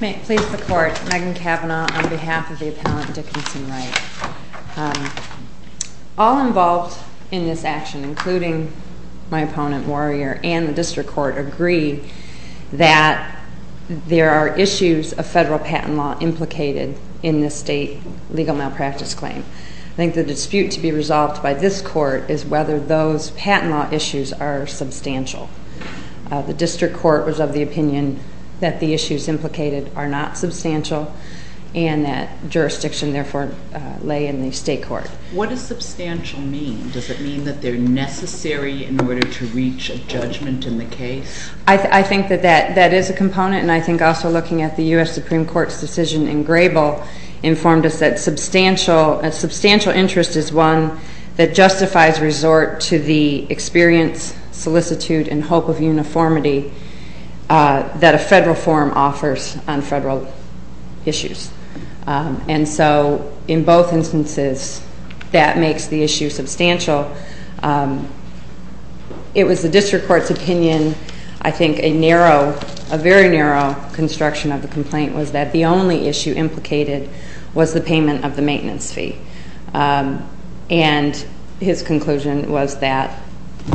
May it please the Court, Megan Kavanaugh on behalf of the Appellant Dickinson Wright. All involved in this action, including my opponent Warrior and the District Court, agree that there are issues of federal patent law implicated in this state legal malpractice claim. I think the dispute to be resolved by this Court is whether those patent law issues are substantial. The District Court was of the opinion that the issues implicated are not substantial and that jurisdiction therefore lay in the State Court. What does substantial mean? Does it mean that they're necessary in order to reach a judgment in the case? I think that that is a component and I think also looking at the U.S. Supreme Court's decision in Grable informed us that substantial interest is one that justifies resort to the experience, solicitude, and hope of uniformity that a federal forum offers on federal issues. And so in both instances, that makes the issue substantial. It was the District Court's opinion, I think, a narrow, a very narrow construction of the complaint was that the only issue implicated was the payment of the maintenance fee. And his conclusion was that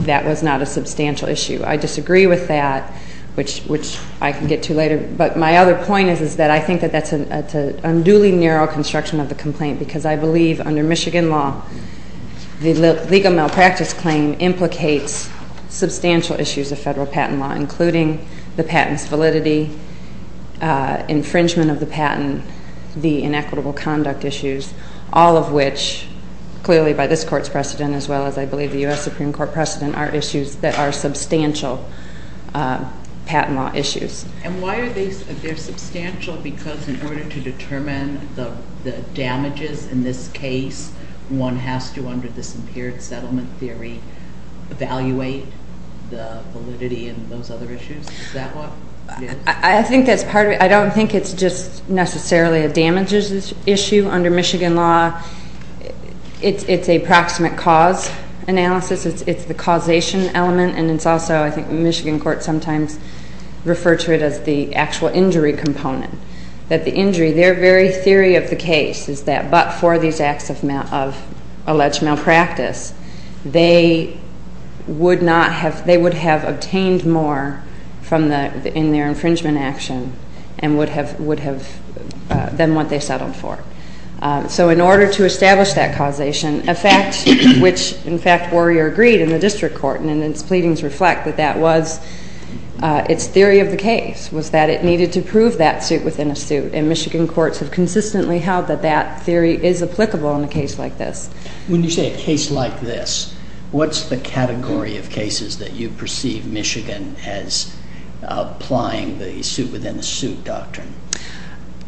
that was not a substantial issue. I disagree with that, which I can get to later, but my other point is that I think that that's an unduly narrow construction of the complaint because I believe under Michigan law, the legal malpractice claim implicates substantial issues of federal patent law, including the patent's validity, infringement of the patent, the inequitable conduct issues, all of which, clearly by this Court's precedent as well as I believe the U.S. Supreme Court precedent, are issues that are substantial patent law issues. And why are they substantial? Because in order to determine the damages in this case, one has to, under this impaired settlement theory, evaluate the validity and those other issues? Is that what it is? I think that's part of it. I don't think it's just necessarily a damages issue under Michigan law. It's a proximate cause analysis. It's the causation element, and it's also, I think the Michigan court sometimes refers to it as the actual injury component, that the injury, their very theory of the case is that but for these acts of alleged malpractice, they would have obtained more in their infringement action than what they settled for. So in order to establish that causation, a fact which in fact Warrior agreed in the district court, and its pleadings reflect that that was its theory of the case, was that it needed to prove that suit within a suit, and Michigan courts have consistently held that that theory is applicable in a case like this. When you say a case like this, what's the category of cases that you perceive Michigan as applying the suit within a suit doctrine?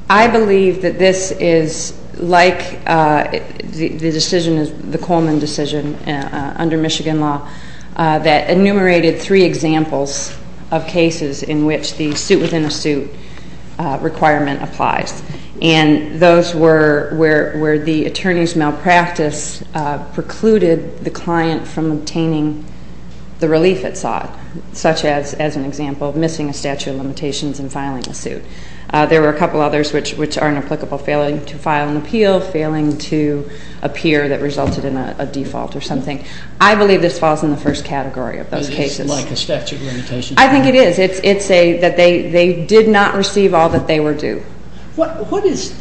I believe that this is like the decision, the Coleman decision under Michigan law, that enumerated three examples of cases in which the suit within a suit requirement applies. And those were where the attorney's malpractice precluded the client from obtaining the relief it sought, such as an example of missing a statute of limitations and filing a suit. There were a couple others which are inapplicable, failing to file an appeal, failing to appear that resulted in a default or something. I believe this falls in the first category of those cases. Is it like a statute of limitations? I think it is. It's that they did not receive all that they were due. Perhaps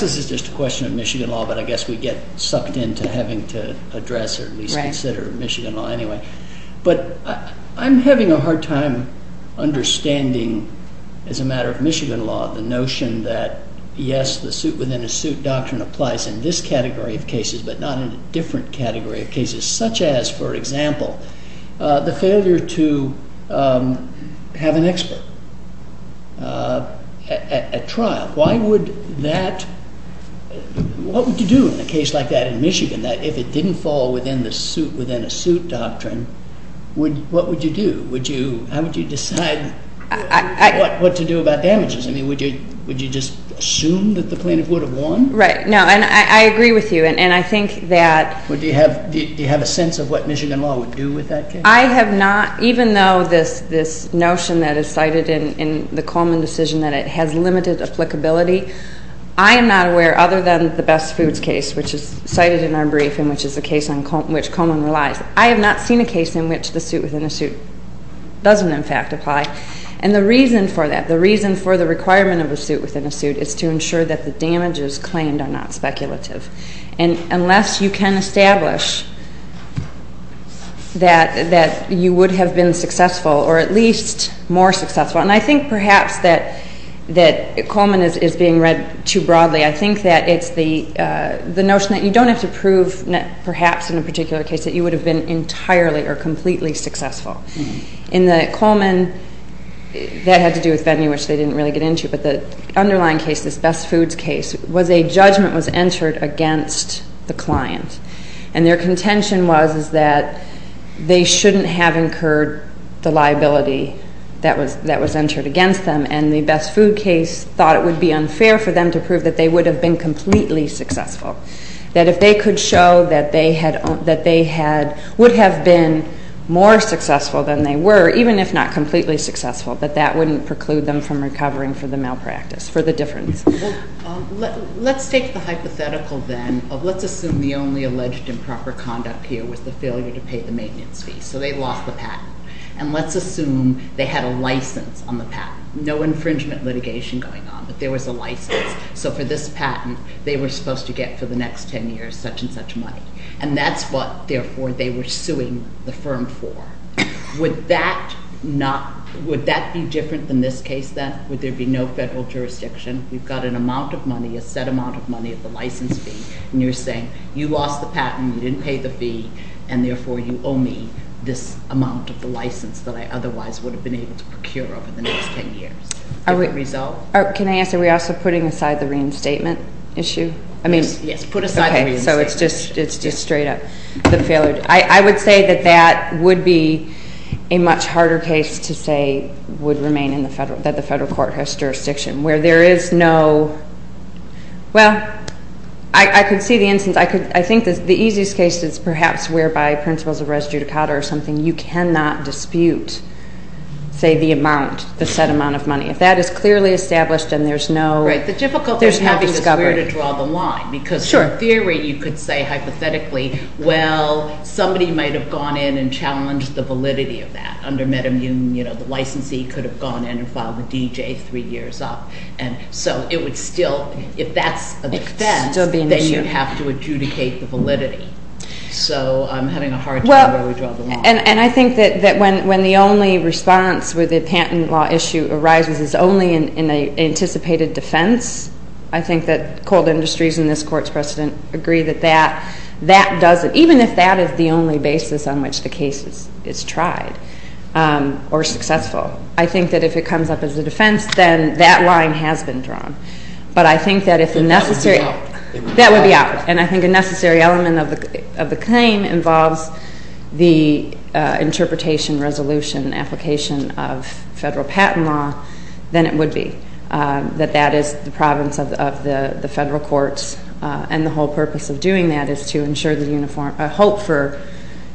this is just a question of Michigan law, but I guess we get sucked into having to address or at least consider Michigan law anyway. But I'm having a hard time understanding, as a matter of Michigan law, the notion that yes, the suit within a suit doctrine applies in this category of cases, but not in a different category of cases, such as, for example, the failure to have an expert at trial. Why would that – what would you do in a case like that in Michigan, that if it didn't fall within a suit doctrine, what would you do? How would you decide what to do about damages? I mean, would you just assume that the plaintiff would have won? Right. No. And I agree with you. Do you have a sense of what Michigan law would do with that case? I have not, even though this notion that is cited in the Coleman decision, that it has limited applicability, I am not aware, other than the Best Foods case, which is cited in our briefing, which is a case on which Coleman relies, I have not seen a case in which the suit within a suit doesn't, in fact, apply. And the reason for that, the reason for the requirement of a suit within a suit, is to ensure that the damages claimed are not speculative. And unless you can establish that you would have been successful, or at least more successful, and I think perhaps that Coleman is being read too broadly, I think that it's the notion that you don't have to prove, perhaps in a particular case, that you would have been entirely or completely successful. In the Coleman, that had to do with venue, which they didn't really get into, but the underlying case, this Best Foods case, was a judgment was entered against the client. And their contention was that they shouldn't have incurred the liability that was entered against them, and the Best Food case thought it would be unfair for them to prove that they would have been completely successful. That if they could show that they would have been more successful than they were, or even if not completely successful, that that wouldn't preclude them from recovering for the malpractice, for the difference. Let's take the hypothetical then of let's assume the only alleged improper conduct here was the failure to pay the maintenance fee. So they lost the patent. And let's assume they had a license on the patent. No infringement litigation going on, but there was a license. So for this patent, they were supposed to get for the next 10 years such and such money. And that's what, therefore, they were suing the firm for. Would that be different than this case, then? Would there be no federal jurisdiction? We've got an amount of money, a set amount of money at the license fee, and you're saying, you lost the patent, you didn't pay the fee, and, therefore, you owe me this amount of the license that I otherwise would have been able to procure over the next 10 years. Good result? Can I answer? Are we also putting aside the reinstatement issue? Yes, put aside the reinstatement issue. Okay, so it's just straight up. I would say that that would be a much harder case to say would remain in the federal, that the federal court has jurisdiction, where there is no, well, I could see the instance. I think the easiest case is perhaps whereby principles of res judicata or something. You cannot dispute, say, the amount, the set amount of money. If that is clearly established and there's no discovery. Right, the difficulty is having to swear to draw the line. Sure. In theory, you could say, hypothetically, well, somebody might have gone in and challenged the validity of that. Under MedImmune, you know, the licensee could have gone in and filed a DJ three years up. And so it would still, if that's a defense, then you'd have to adjudicate the validity. So I'm having a hard time where we draw the line. And I think that when the only response with a patent law issue arises is only in an anticipated defense, I think that cold industries and this court's precedent agree that that doesn't, even if that is the only basis on which the case is tried or successful, I think that if it comes up as a defense, then that line has been drawn. But I think that if the necessary, that would be out. And I think a necessary element of the claim involves the interpretation, resolution, application of federal patent law, then it would be that that is the province of the federal courts. And the whole purpose of doing that is to ensure the hope for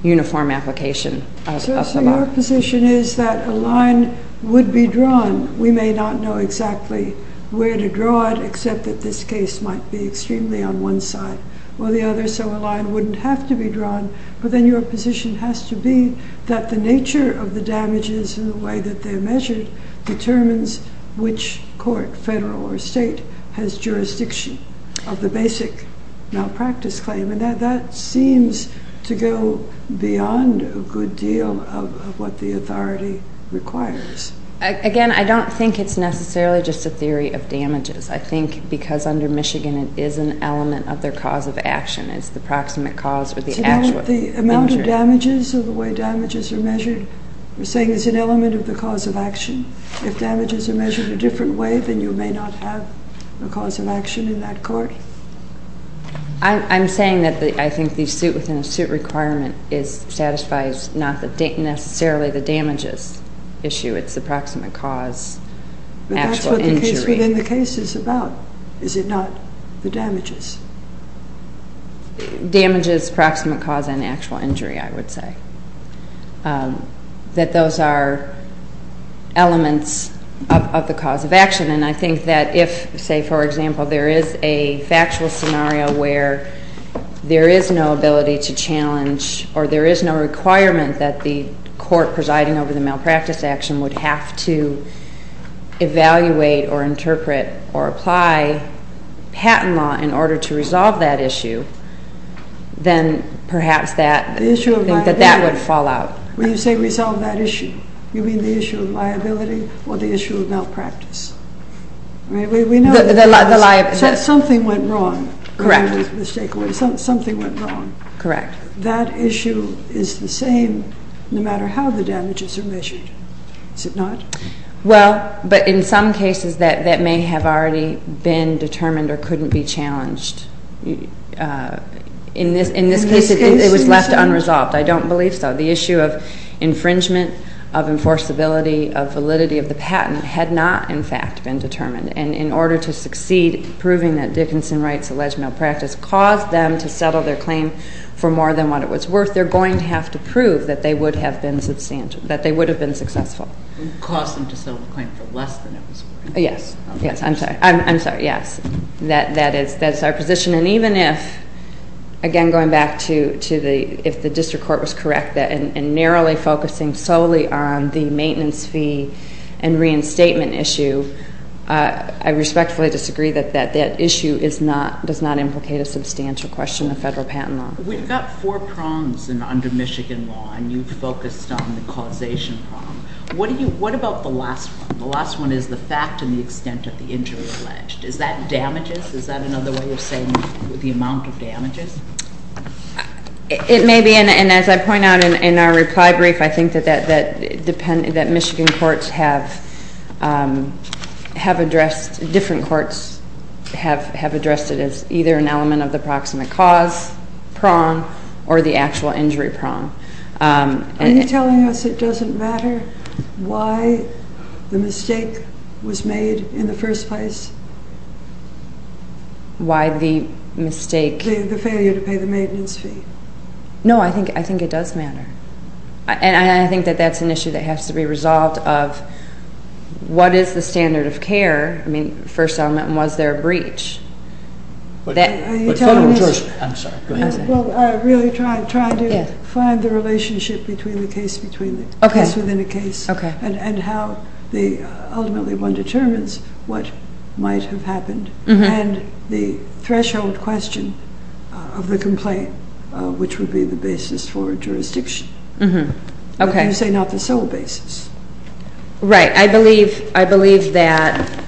uniform application. So your position is that a line would be drawn. We may not know exactly where to draw it, except that this case might be extremely on one side or the other, but then your position has to be that the nature of the damages and the way that they're measured determines which court, federal or state, has jurisdiction of the basic malpractice claim. And that seems to go beyond a good deal of what the authority requires. Again, I don't think it's necessarily just a theory of damages. I think because under Michigan it is an element of their cause of action. It's the proximate cause or the actual injury. Do you know what the amount of damages or the way damages are measured? You're saying it's an element of the cause of action. If damages are measured a different way, then you may not have a cause of action in that court. I'm saying that I think the suit within a suit requirement satisfies not necessarily the damages issue. It's the proximate cause, actual injury. That's what the case is about, is it not? The damages. Damages, proximate cause, and actual injury, I would say. That those are elements of the cause of action. And I think that if, say, for example, there is a factual scenario where there is no ability to challenge or there is no requirement that the court presiding over the malpractice action would have to evaluate or interpret or apply patent law in order to resolve that issue, then perhaps that would fall out. When you say resolve that issue, you mean the issue of liability or the issue of malpractice? Something went wrong. Correct. Something went wrong. Correct. That issue is the same no matter how the damages are measured, is it not? Well, but in some cases that may have already been determined or couldn't be challenged. In this case, it was left unresolved. I don't believe so. The issue of infringement, of enforceability, of validity of the patent had not, in fact, been determined. And in order to succeed in proving that Dickinson Wright's alleged malpractice caused them to settle their claim for more than what it was worth, they're going to have to prove that they would have been successful. It caused them to settle the claim for less than it was worth. Yes. Yes, I'm sorry. I'm sorry, yes. That is our position. And even if, again, going back to if the district court was correct and narrowly focusing solely on the maintenance fee and reinstatement issue, I respectfully disagree that that issue does not implicate a substantial question of federal patent law. We've got four prongs under Michigan law, and you've focused on the causation prong. What about the last one? The last one is the fact and the extent of the injury alleged. Is that damages? Is that another way of saying the amount of damages? It may be, and as I point out in our reply brief, I think that Michigan courts have addressed, different courts have addressed it as either an element of the proximate cause prong or the actual injury prong. Are you telling us it doesn't matter why the mistake was made in the first place? Why the mistake? The failure to pay the maintenance fee. No, I think it does matter. And I think that that's an issue that has to be resolved of what is the standard of care? I mean, first element, was there a breach? But federal judge, I'm sorry, go ahead. I'm really trying to find the relationship between the case between the case within a case and how ultimately one determines what might have happened. And the threshold question of the complaint, which would be the basis for jurisdiction. But you say not the sole basis. Right. I believe that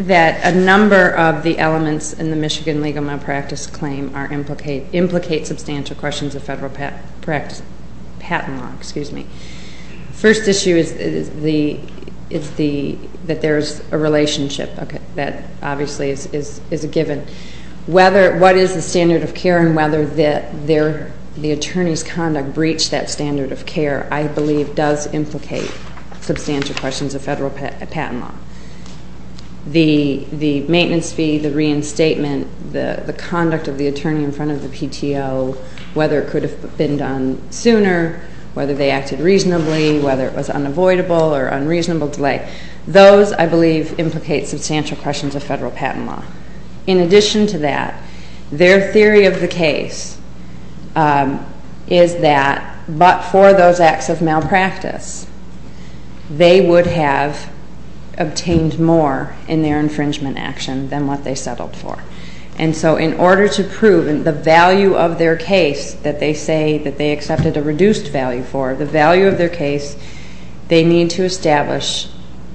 a number of the elements in the Michigan Legal Malpractice Claim implicate substantial questions of federal patent law. First issue is that there's a relationship. That obviously is a given. What is the standard of care and whether the attorney's conduct breached that standard of care, I believe does implicate substantial questions of federal patent law. The maintenance fee, the reinstatement, the conduct of the attorney in front of the PTO, whether it could have been done sooner, whether they acted reasonably, whether it was unavoidable or unreasonable delay. Those, I believe, implicate substantial questions of federal patent law. In addition to that, their theory of the case is that but for those acts of malpractice, they would have obtained more in their infringement action than what they settled for. And so in order to prove the value of their case that they say that they accepted a reduced value for, the value of their case, they need to establish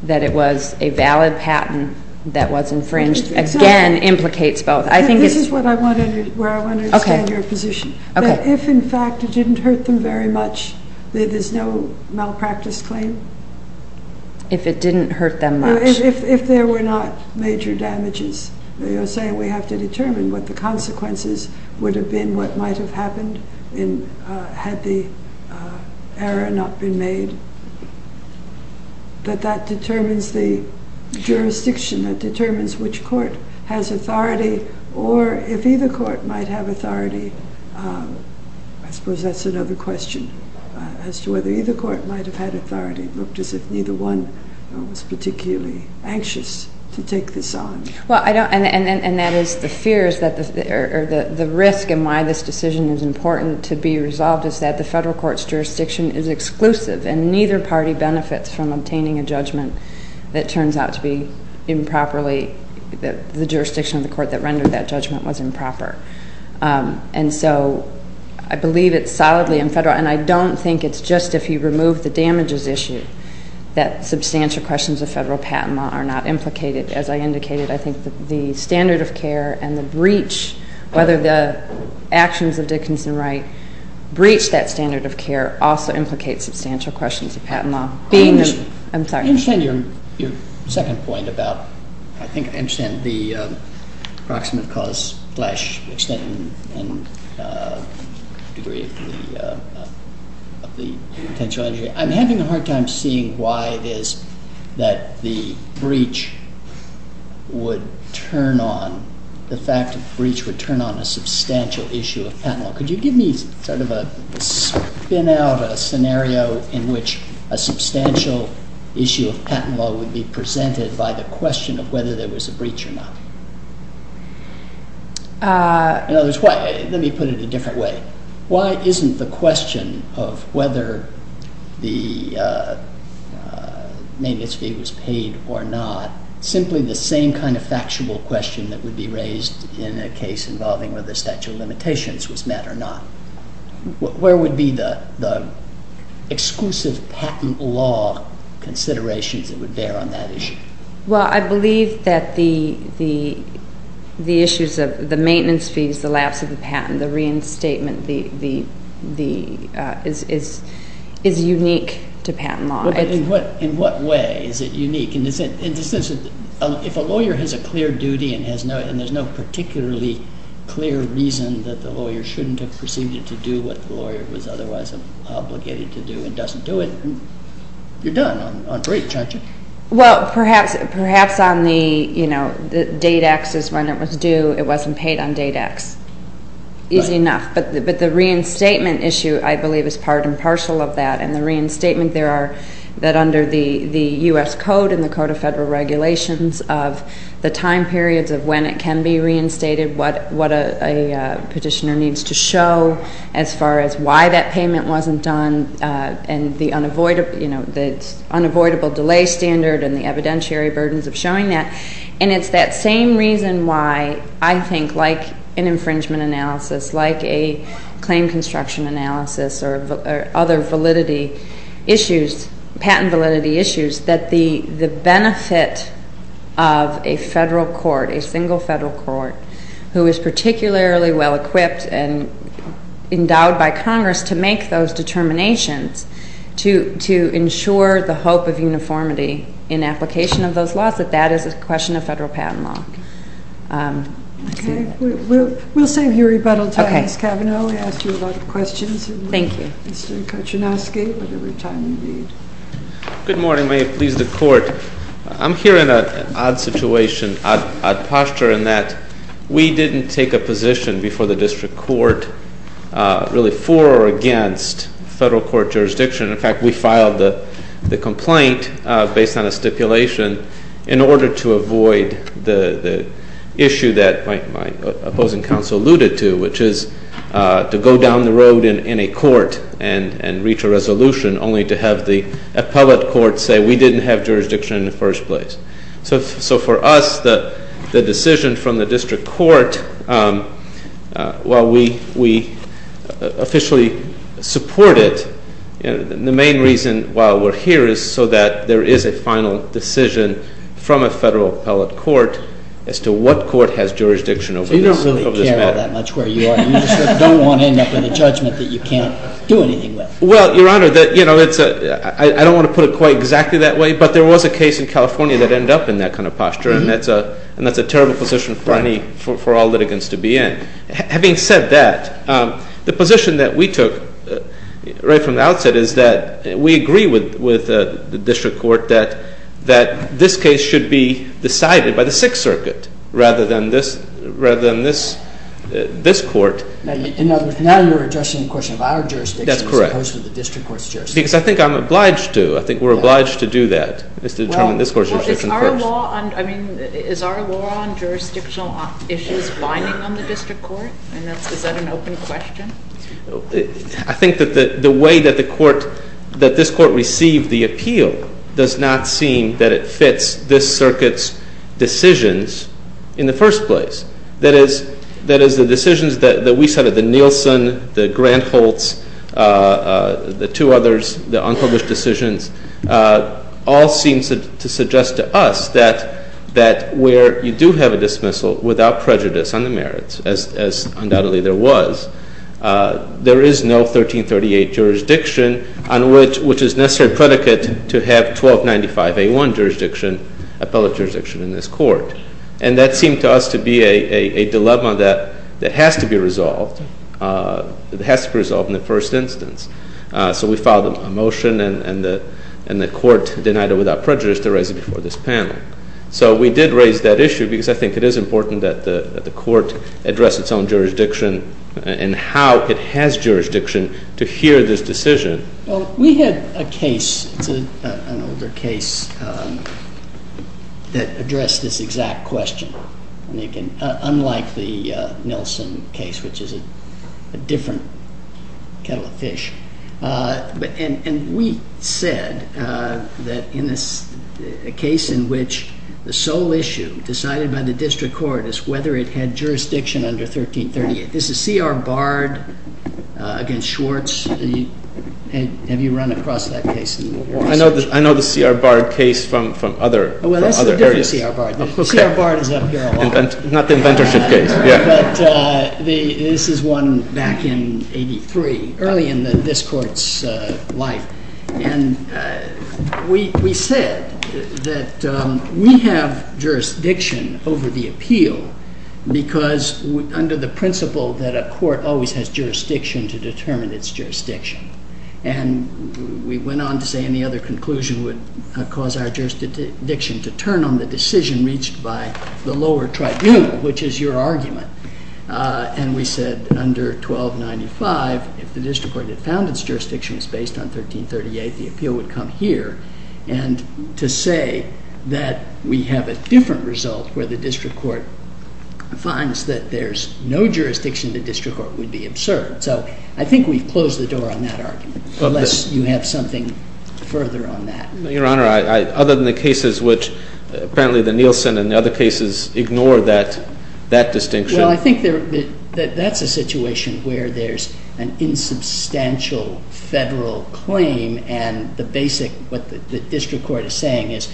that it was a valid patent that was infringed. Again, implicates both. This is where I want to understand your position. If, in fact, it didn't hurt them very much, there's no malpractice claim? If it didn't hurt them much. If there were not major damages, you're saying we have to determine what the consequences would have been, what might have happened had the error not been made, that that determines the jurisdiction, that determines which court has authority, or if either court might have authority. I suppose that's another question as to whether either court might have had authority. It looked as if neither one was particularly anxious to take this on. Well, I don't, and that is the fear is that the risk in why this decision is important to be resolved is that the federal court's jurisdiction is exclusive and neither party benefits from obtaining a judgment that turns out to be improperly, the jurisdiction of the court that rendered that judgment was improper. And so I believe it's solidly in federal, and I don't think it's just if you remove the damages issue, that substantial questions of federal patent law are not implicated. As I indicated, I think the standard of care and the breach, whether the actions of Dickinson Wright breach that standard of care also implicates substantial questions of patent law. I'm sorry. I understand your second point about, I think I understand, the approximate cause flesh extent and degree of the potential injury. I'm having a hard time seeing why it is that the breach would turn on, the fact of the breach would turn on a substantial issue of patent law. Could you give me sort of a spin out of a scenario in which a substantial issue of patent law would be presented by the question of whether there was a breach or not? Let me put it a different way. Why isn't the question of whether the maintenance fee was paid or not simply the same kind of factual question that would be raised in a case involving whether the statute of limitations was met or not? Where would be the exclusive patent law considerations that would bear on that issue? Well, I believe that the issues of the maintenance fees, the lapse of the patent, the reinstatement is unique to patent law. In what way is it unique? In the sense that if a lawyer has a clear duty and there's no particularly clear reason that the lawyer shouldn't have proceeded to do what the lawyer was otherwise obligated to do and doesn't do it, you're done on breach, aren't you? Well, perhaps on the date access when it was due, it wasn't paid on date X. Easy enough. But the reinstatement issue, I believe, is part and parcel of that. And the reinstatement there are that under the U.S. Code and the Code of Federal Regulations of the time periods of when it can be reinstated, what a petitioner needs to show as far as why that payment wasn't done and the unavoidable delay standard and the evidentiary burdens of showing that. And it's that same reason why I think, like an infringement analysis, like a claim construction analysis or other validity issues, patent validity issues, that the benefit of a federal court, a single federal court, who is particularly well-equipped and endowed by Congress to make those determinations to ensure the hope of uniformity in application of those laws, that that is a question of federal patent law. Okay. We'll save you rebuttal time, Ms. Cavanaugh. We asked you a lot of questions. Thank you. Mr. Kachinowski, whatever time you need. Good morning. May it please the Court. I'm here in an odd situation, odd posture, in that we didn't take a position before the district court really for or against federal court jurisdiction. In fact, we filed the complaint based on a stipulation in order to avoid the issue that my opposing counsel alluded to, which is to go down the road in a court and reach a resolution only to have the appellate court say we didn't have jurisdiction in the first place. So for us, the decision from the district court, while we officially support it, the main reason why we're here is so that there is a final decision from a federal appellate court as to what court has jurisdiction over this matter. So you don't really care all that much where you are. You just don't want to end up with a judgment that you can't do anything with. Well, Your Honor, I don't want to put it quite exactly that way, but there was a case in California that ended up in that kind of posture, and that's a terrible position for all litigants to be in. Having said that, the position that we took right from the outset is that we agree with the district court that this case should be decided by the Sixth Circuit rather than this court. In other words, now you're addressing the question of our jurisdiction as opposed to the district court's jurisdiction. That's correct. Because I think I'm obliged to. I think we're obliged to do that, is to determine this court's jurisdiction first. Well, is our law on jurisdictional issues binding on the district court? Is that an open question? I think that the way that this court received the appeal does not seem that it fits this circuit's decisions in the first place. That is, the decisions that we cited, the Nielsen, the Grant-Holtz, the two others, the unpublished decisions, all seem to suggest to us that where you do have a dismissal without prejudice on the merits, as undoubtedly there was, there is no 1338 jurisdiction on which is necessary predicate to have 1295A1 jurisdiction, appellate jurisdiction in this court. And that seemed to us to be a dilemma that has to be resolved. It has to be resolved in the first instance. So we filed a motion, and the court denied it without prejudice to raise it before this panel. So we did raise that issue because I think it is important that the court address its own jurisdiction and how it has jurisdiction to hear this decision. Well, we had a case, an older case, that addressed this exact question. Unlike the Nielsen case, which is a different kettle of fish. And we said that in this case in which the sole issue decided by the district court is whether it had jurisdiction under 1338. This is C.R. Bard against Schwartz. Have you run across that case in your research? I know the C.R. Bard case from other areas. Well, that's a different C.R. Bard. C.R. Bard is up here a lot. Not the inventorship case. This is one back in 83, early in this court's life. And we said that we have jurisdiction over the appeal because under the principle that a court always has jurisdiction to determine its jurisdiction. And we went on to say any other conclusion would cause our jurisdiction to turn on the decision reached by the lower tribunal, which is your argument. And we said under 1295, if the district court had found its jurisdiction was based on 1338, the appeal would come here. And to say that we have a different result where the district court finds that there's no jurisdiction, the district court would be absurd. So I think we've closed the door on that argument, unless you have something further on that. Your Honor, other than the cases which apparently the Nielsen and the other cases ignore that distinction. Well, I think that that's a situation where there's an insubstantial federal claim. And the basic, what the district court is saying is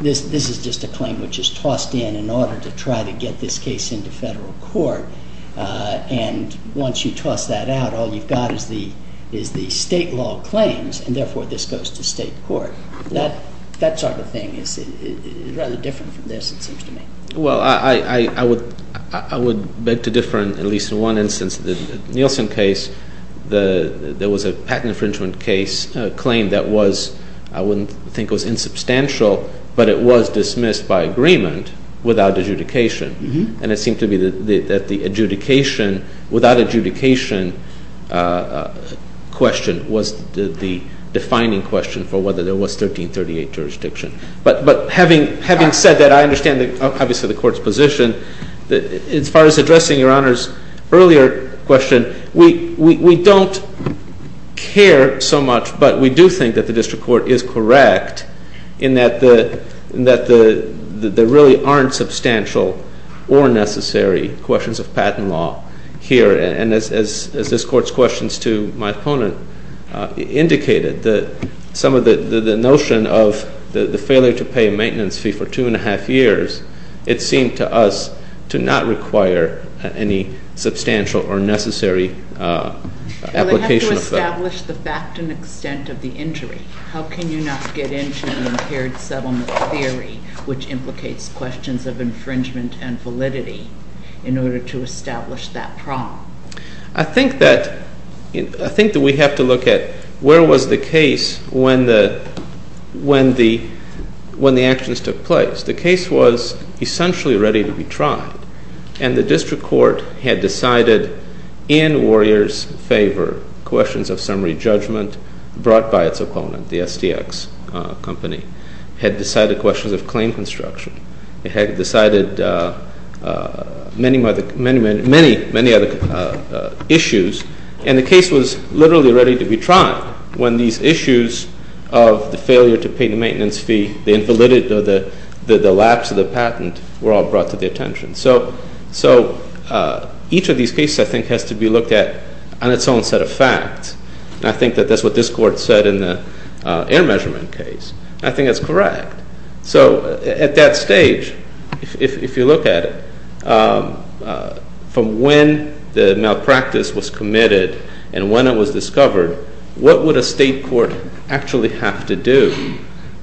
this is just a claim which is tossed in in order to try to get this case into federal court. And once you toss that out, all you've got is the state law claims. And therefore, this goes to state court. That sort of thing is rather different from this, it seems to me. Well, I would beg to differ in at least one instance. The Nielsen case, there was a patent infringement claim that was, I wouldn't think it was insubstantial, but it was dismissed by agreement without adjudication. And it seemed to me that the adjudication, without adjudication question was the defining question for whether there was 1338 jurisdiction. But having said that, I understand obviously the court's position. As far as addressing Your Honor's earlier question, we don't care so much. But we do think that the district court is correct in that there really aren't substantial or necessary questions of patent law here. And as this court's questions to my opponent indicated, some of the notion of the failure to pay a maintenance fee for two and a half years, it seemed to us to not require any substantial or necessary application of that. Well, they have to establish the fact and extent of the injury. How can you not get into the impaired settlement theory which implicates questions of infringement and validity in order to establish that problem? I think that we have to look at where was the case when the actions took place. The case was essentially ready to be tried. And the district court had decided in Warrior's favor questions of summary judgment brought by its opponent, the STX company, had decided questions of claim construction. It had decided many other issues. And the case was literally ready to be tried when these issues of the failure to pay the maintenance fee, the invalidity of the lapse of the patent were all brought to the attention. So each of these cases, I think, has to be looked at on its own set of facts. And I think that that's what this court said in the air measurement case. I think that's correct. So at that stage, if you look at it, from when the malpractice was committed and when it was discovered, what would a state court actually have to do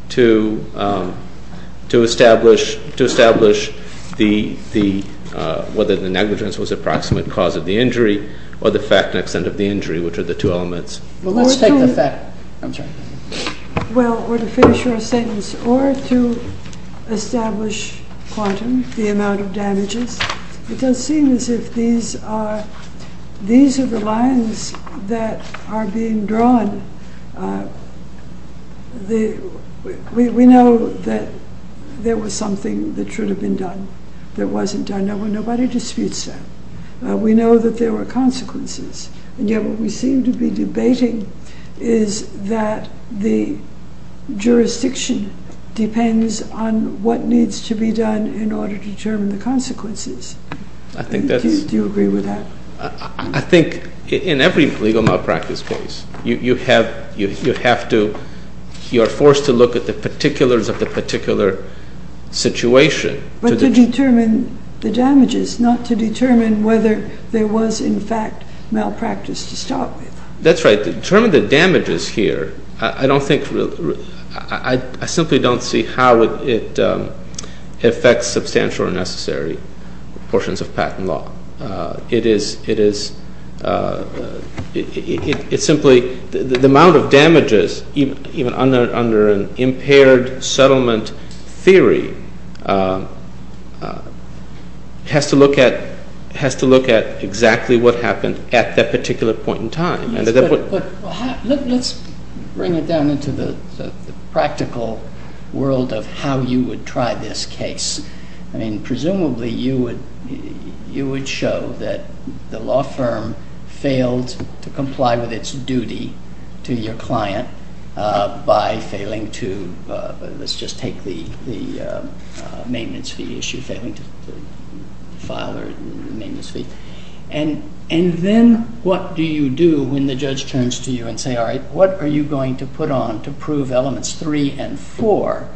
to establish whether the negligence was approximate cause of the injury, or the fact and extent of the injury, which are the two elements? Well, let's take the fact. I'm sorry. Well, or to finish your sentence, or to establish quantum, the amount of damages. It does seem as if these are the lines that are being drawn. We know that there was something that should have been done that wasn't done. Nobody disputes that. We know that there were consequences. And yet what we seem to be debating is that the jurisdiction depends on what needs to be done in order to determine the consequences. Do you agree with that? I think in every legal malpractice case, you are forced to look at the particulars of the particular situation. But to determine the damages, not to determine whether there was, in fact, malpractice to start with. That's right. To determine the damages here, I simply don't see how it affects substantial or necessary portions of patent law. It is simply the amount of damages, even under an impaired settlement theory, has to look at exactly what happened at that particular point in time. Let's bring it down into the practical world of how you would try this case. Presumably, you would show that the law firm failed to comply with its duty to your client by failing to, let's just take the maintenance fee issue, failing to file a maintenance fee. And then what do you do when the judge turns to you and says, all right, what are you going to put on to prove elements 3 and 4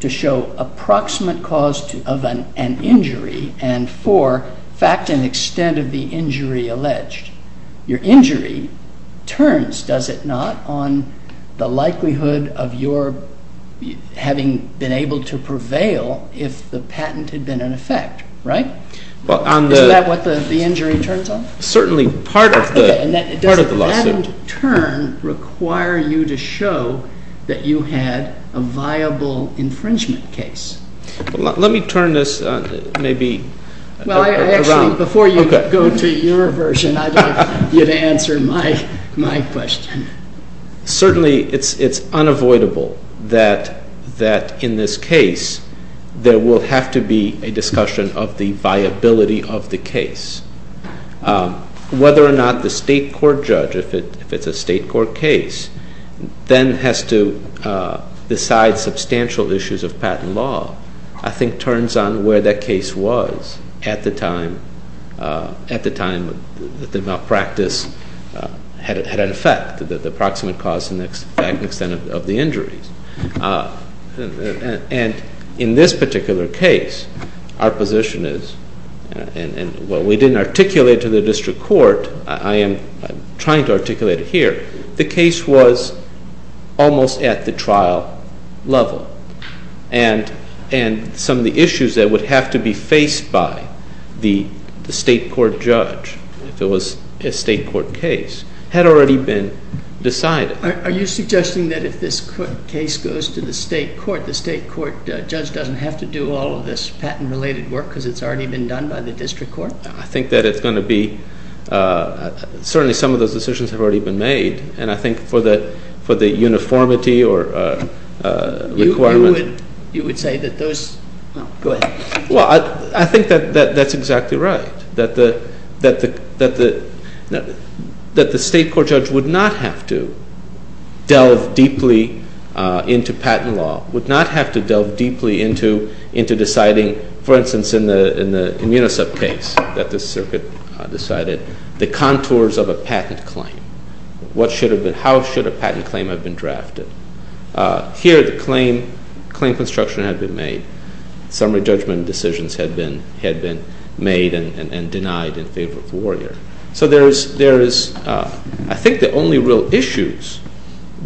to show approximate cause of an injury and 4, fact and extent of the injury alleged? Your injury turns, does it not, on the likelihood of your having been able to prevail if the patent had been in effect, right? Isn't that what the injury turns on? Certainly, part of the lawsuit. Does that turn require you to show that you had a viable infringement case? Let me turn this maybe around. Well, actually, before you go to your version, I'd like you to answer my question. Certainly, it's unavoidable that in this case there will have to be a discussion of the viability of the case. Whether or not the state court judge, if it's a state court case, then has to decide substantial issues of patent law, I think turns on where that case was at the time the malpractice had an effect, the approximate cause and extent of the injuries. And in this particular case, our position is, and what we didn't articulate to the district court, I am trying to articulate it here, the case was almost at the trial level. And some of the issues that would have to be faced by the state court judge, if it was a state court case, had already been decided. Are you suggesting that if this case goes to the state court, the state court judge doesn't have to do all of this patent-related work because it's already been done by the district court? I think that it's going to be, certainly some of those decisions have already been made. And I think for the uniformity or requirement- You would say that those, well, go ahead. Well, I think that that's exactly right. That the state court judge would not have to delve deeply into patent law, would not have to delve deeply into deciding, for instance, in the Immunosub case that the circuit decided, the contours of a patent claim. What should have been, how should a patent claim have been drafted? Here, the claim construction had been made. Summary judgment decisions had been made and denied in favor of the warrior. So there is, I think the only real issues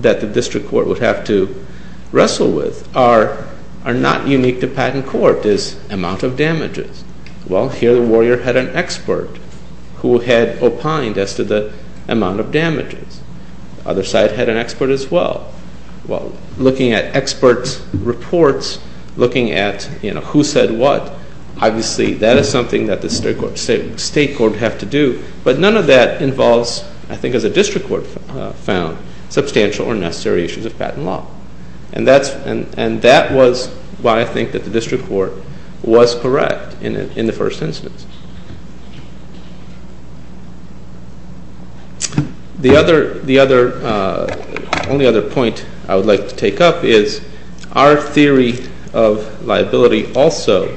that the district court would have to wrestle with are not unique to patent court, is amount of damages. Well, here the warrior had an expert who had opined as to the amount of damages. Other side had an expert as well. Well, looking at experts' reports, looking at who said what, obviously that is something that the state court would have to do. But none of that involves, I think as a district court found, substantial or necessary issues of patent law. And that was why I think that the district court was correct in the first instance. The other, only other point I would like to take up is our theory of liability also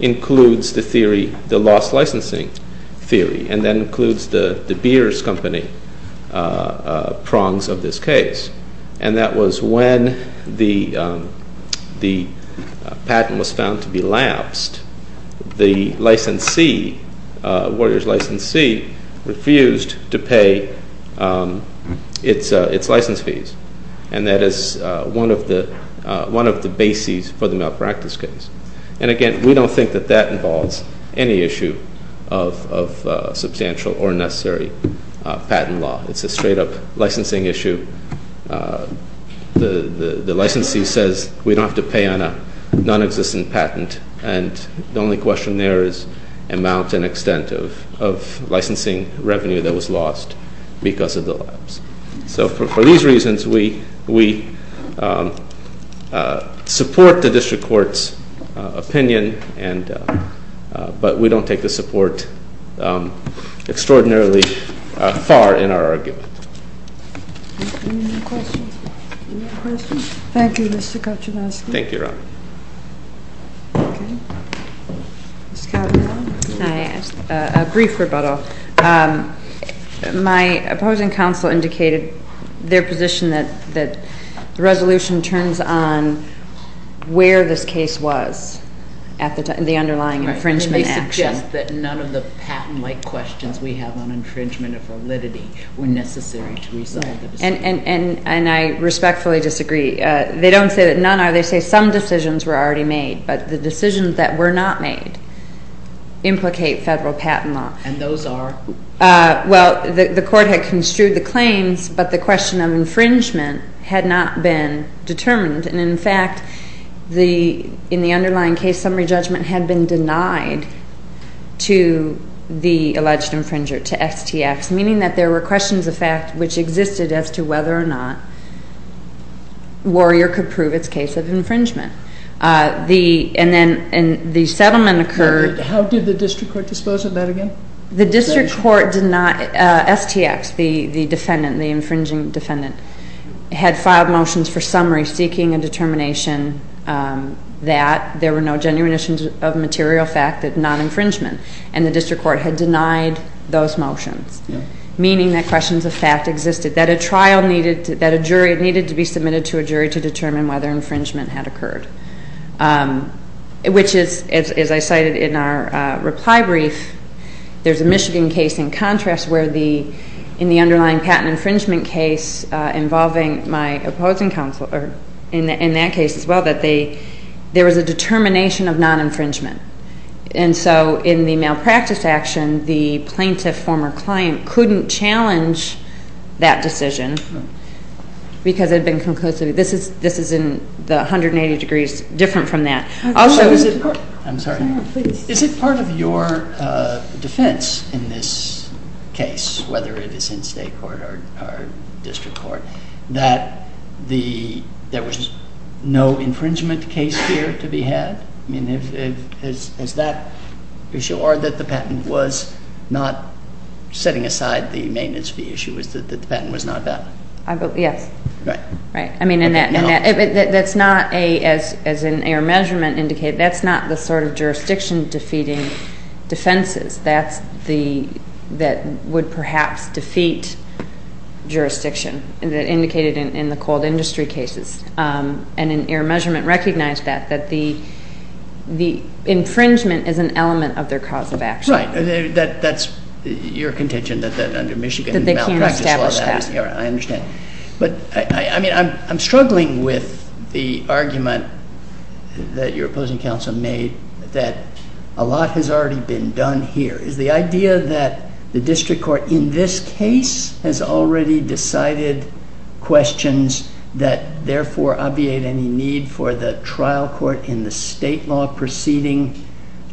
includes the theory, the lost licensing theory. And that includes the beers company prongs of this case. And that was when the patent was found to be lapsed, the licensee, warrior's licensee, refused to pay its license fees. And that is one of the bases for the malpractice case. And again, we don't think that that involves any issue of substantial or necessary patent law. It's a straight up licensing issue. The licensee says we don't have to pay on a non-existent patent. And the only question there is amount and extent of licensing revenue that was lost because of the lapse. So for these reasons, we support the district court's opinion, but we don't take the support extraordinarily far in our argument. Any more questions? Thank you, Mr. Kachinowski. Thank you, Your Honor. Okay. Ms. Cavanagh. A brief rebuttal. My opposing counsel indicated their position that the resolution turns on where this case was at the underlying infringement action. They suggest that none of the patent-like questions we have on infringement of validity were necessary to resolve the decision. And I respectfully disagree. They don't say that none are. They say some decisions were already made, but the decisions that were not made implicate federal patent law. And those are? Well, the court had construed the claims, but the question of infringement had not been determined. And, in fact, in the underlying case, summary judgment had been denied to the alleged infringer, to STX, meaning that there were questions of fact which existed as to whether or not Warrior could prove its case of infringement. And then the settlement occurred. How did the district court dispose of that again? The district court did not. STX, the defendant, the infringing defendant, had filed motions for summary seeking a determination that there were no genuine issues of material fact, non-infringement, and the district court had denied those motions, meaning that questions of fact existed, that a jury needed to be submitted to a jury to determine whether infringement had occurred, which is, as I cited in our reply brief, there's a Michigan case in contrast where, in the underlying patent infringement case involving my opposing counsel, or in that case as well, that there was a determination of non-infringement. And so in the malpractice action, the plaintiff, former client, couldn't challenge that decision because it had been conclusive. This is in the 180 degrees different from that. I'm sorry. Is it part of your defense in this case, whether it is in state court or district court, that there was no infringement case here to be had? I mean, is that the issue? Or that the patent was not setting aside the maintenance fee issue, is that the patent was not valid? Yes. Right. Right. I mean, that's not, as an error measurement indicated, that's not the sort of jurisdiction defeating defenses. That would perhaps defeat jurisdiction that indicated in the cold industry cases. And an error measurement recognized that, that the infringement is an element of their cause of action. Right. That's your contention, that under Michigan malpractice law, I understand. That they can't establish that. But, I mean, I'm struggling with the argument that your opposing counsel made, that a lot has already been done here. Is the idea that the district court in this case has already decided questions that therefore obviate any need for the trial court in the state law proceeding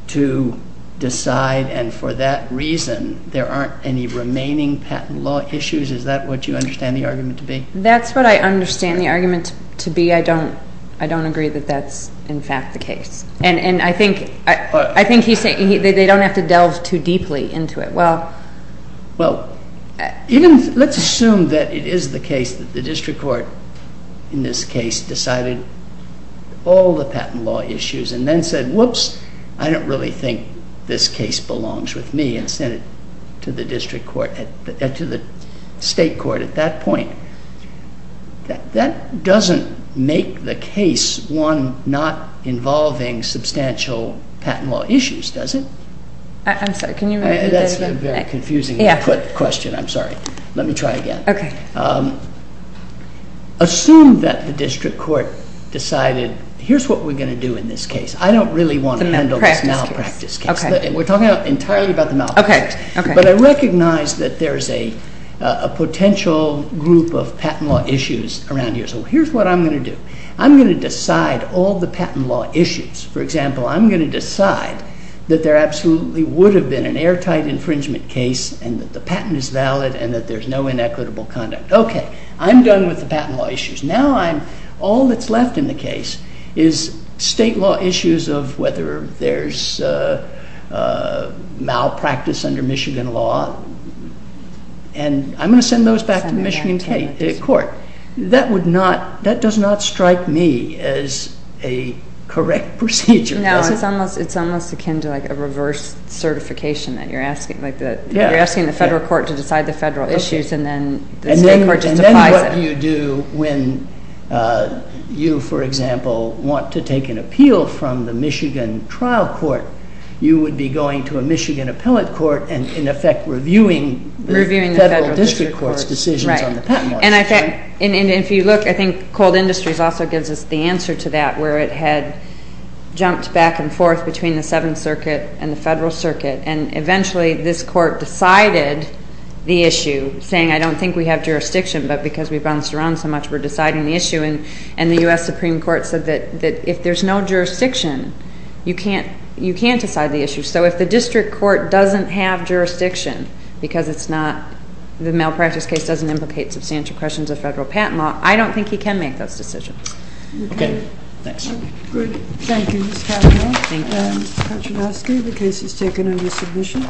to decide, and for that reason, there aren't any remaining patent law issues? Is that what you understand the argument to be? That's what I understand the argument to be. I don't agree that that's, in fact, the case. And I think he's saying they don't have to delve too deeply into it. Well, let's assume that it is the case that the district court in this case decided all the patent law issues, and then said, whoops, I don't really think this case belongs with me, and sent it to the district court, to the state court at that point. That doesn't make the case one not involving substantial patent law issues, does it? I'm sorry, can you repeat the question? That's a very confusing question, I'm sorry. Let me try again. Okay. Assume that the district court decided, here's what we're going to do in this case. I don't really want to handle this malpractice case. Okay. We're talking entirely about the malpractice. Okay. But I recognize that there's a potential group of patent law issues around here, so here's what I'm going to do. I'm going to decide all the patent law issues. For example, I'm going to decide that there absolutely would have been an airtight infringement case, and that the patent is valid, and that there's no inequitable conduct. Okay, I'm done with the patent law issues. Now all that's left in the case is state law issues of whether there's malpractice under Michigan law, and I'm going to send those back to the Michigan court. That does not strike me as a correct procedure. No, it's almost akin to like a reverse certification, that you're asking the federal court to decide the federal issues, and then the state court just applies it. And then what do you do when you, for example, want to take an appeal from the Michigan trial court? You would be going to a Michigan appellate court and, in effect, reviewing the federal district court's decisions on the patent law issue. And if you look, I think Cold Industries also gives us the answer to that, where it had jumped back and forth between the Seventh Circuit and the federal circuit, and eventually this court decided the issue, saying, I don't think we have jurisdiction, but because we bounced around so much, we're deciding the issue. And the U.S. Supreme Court said that if there's no jurisdiction, you can't decide the issue. So if the district court doesn't have jurisdiction because it's not, the malpractice case doesn't implicate substantial questions of federal patent law, I don't think he can make those decisions. Okay, thanks. Good. Thank you, Ms. Cavanaugh. Thank you. Mr. Kaczynski, the case is taken under submission.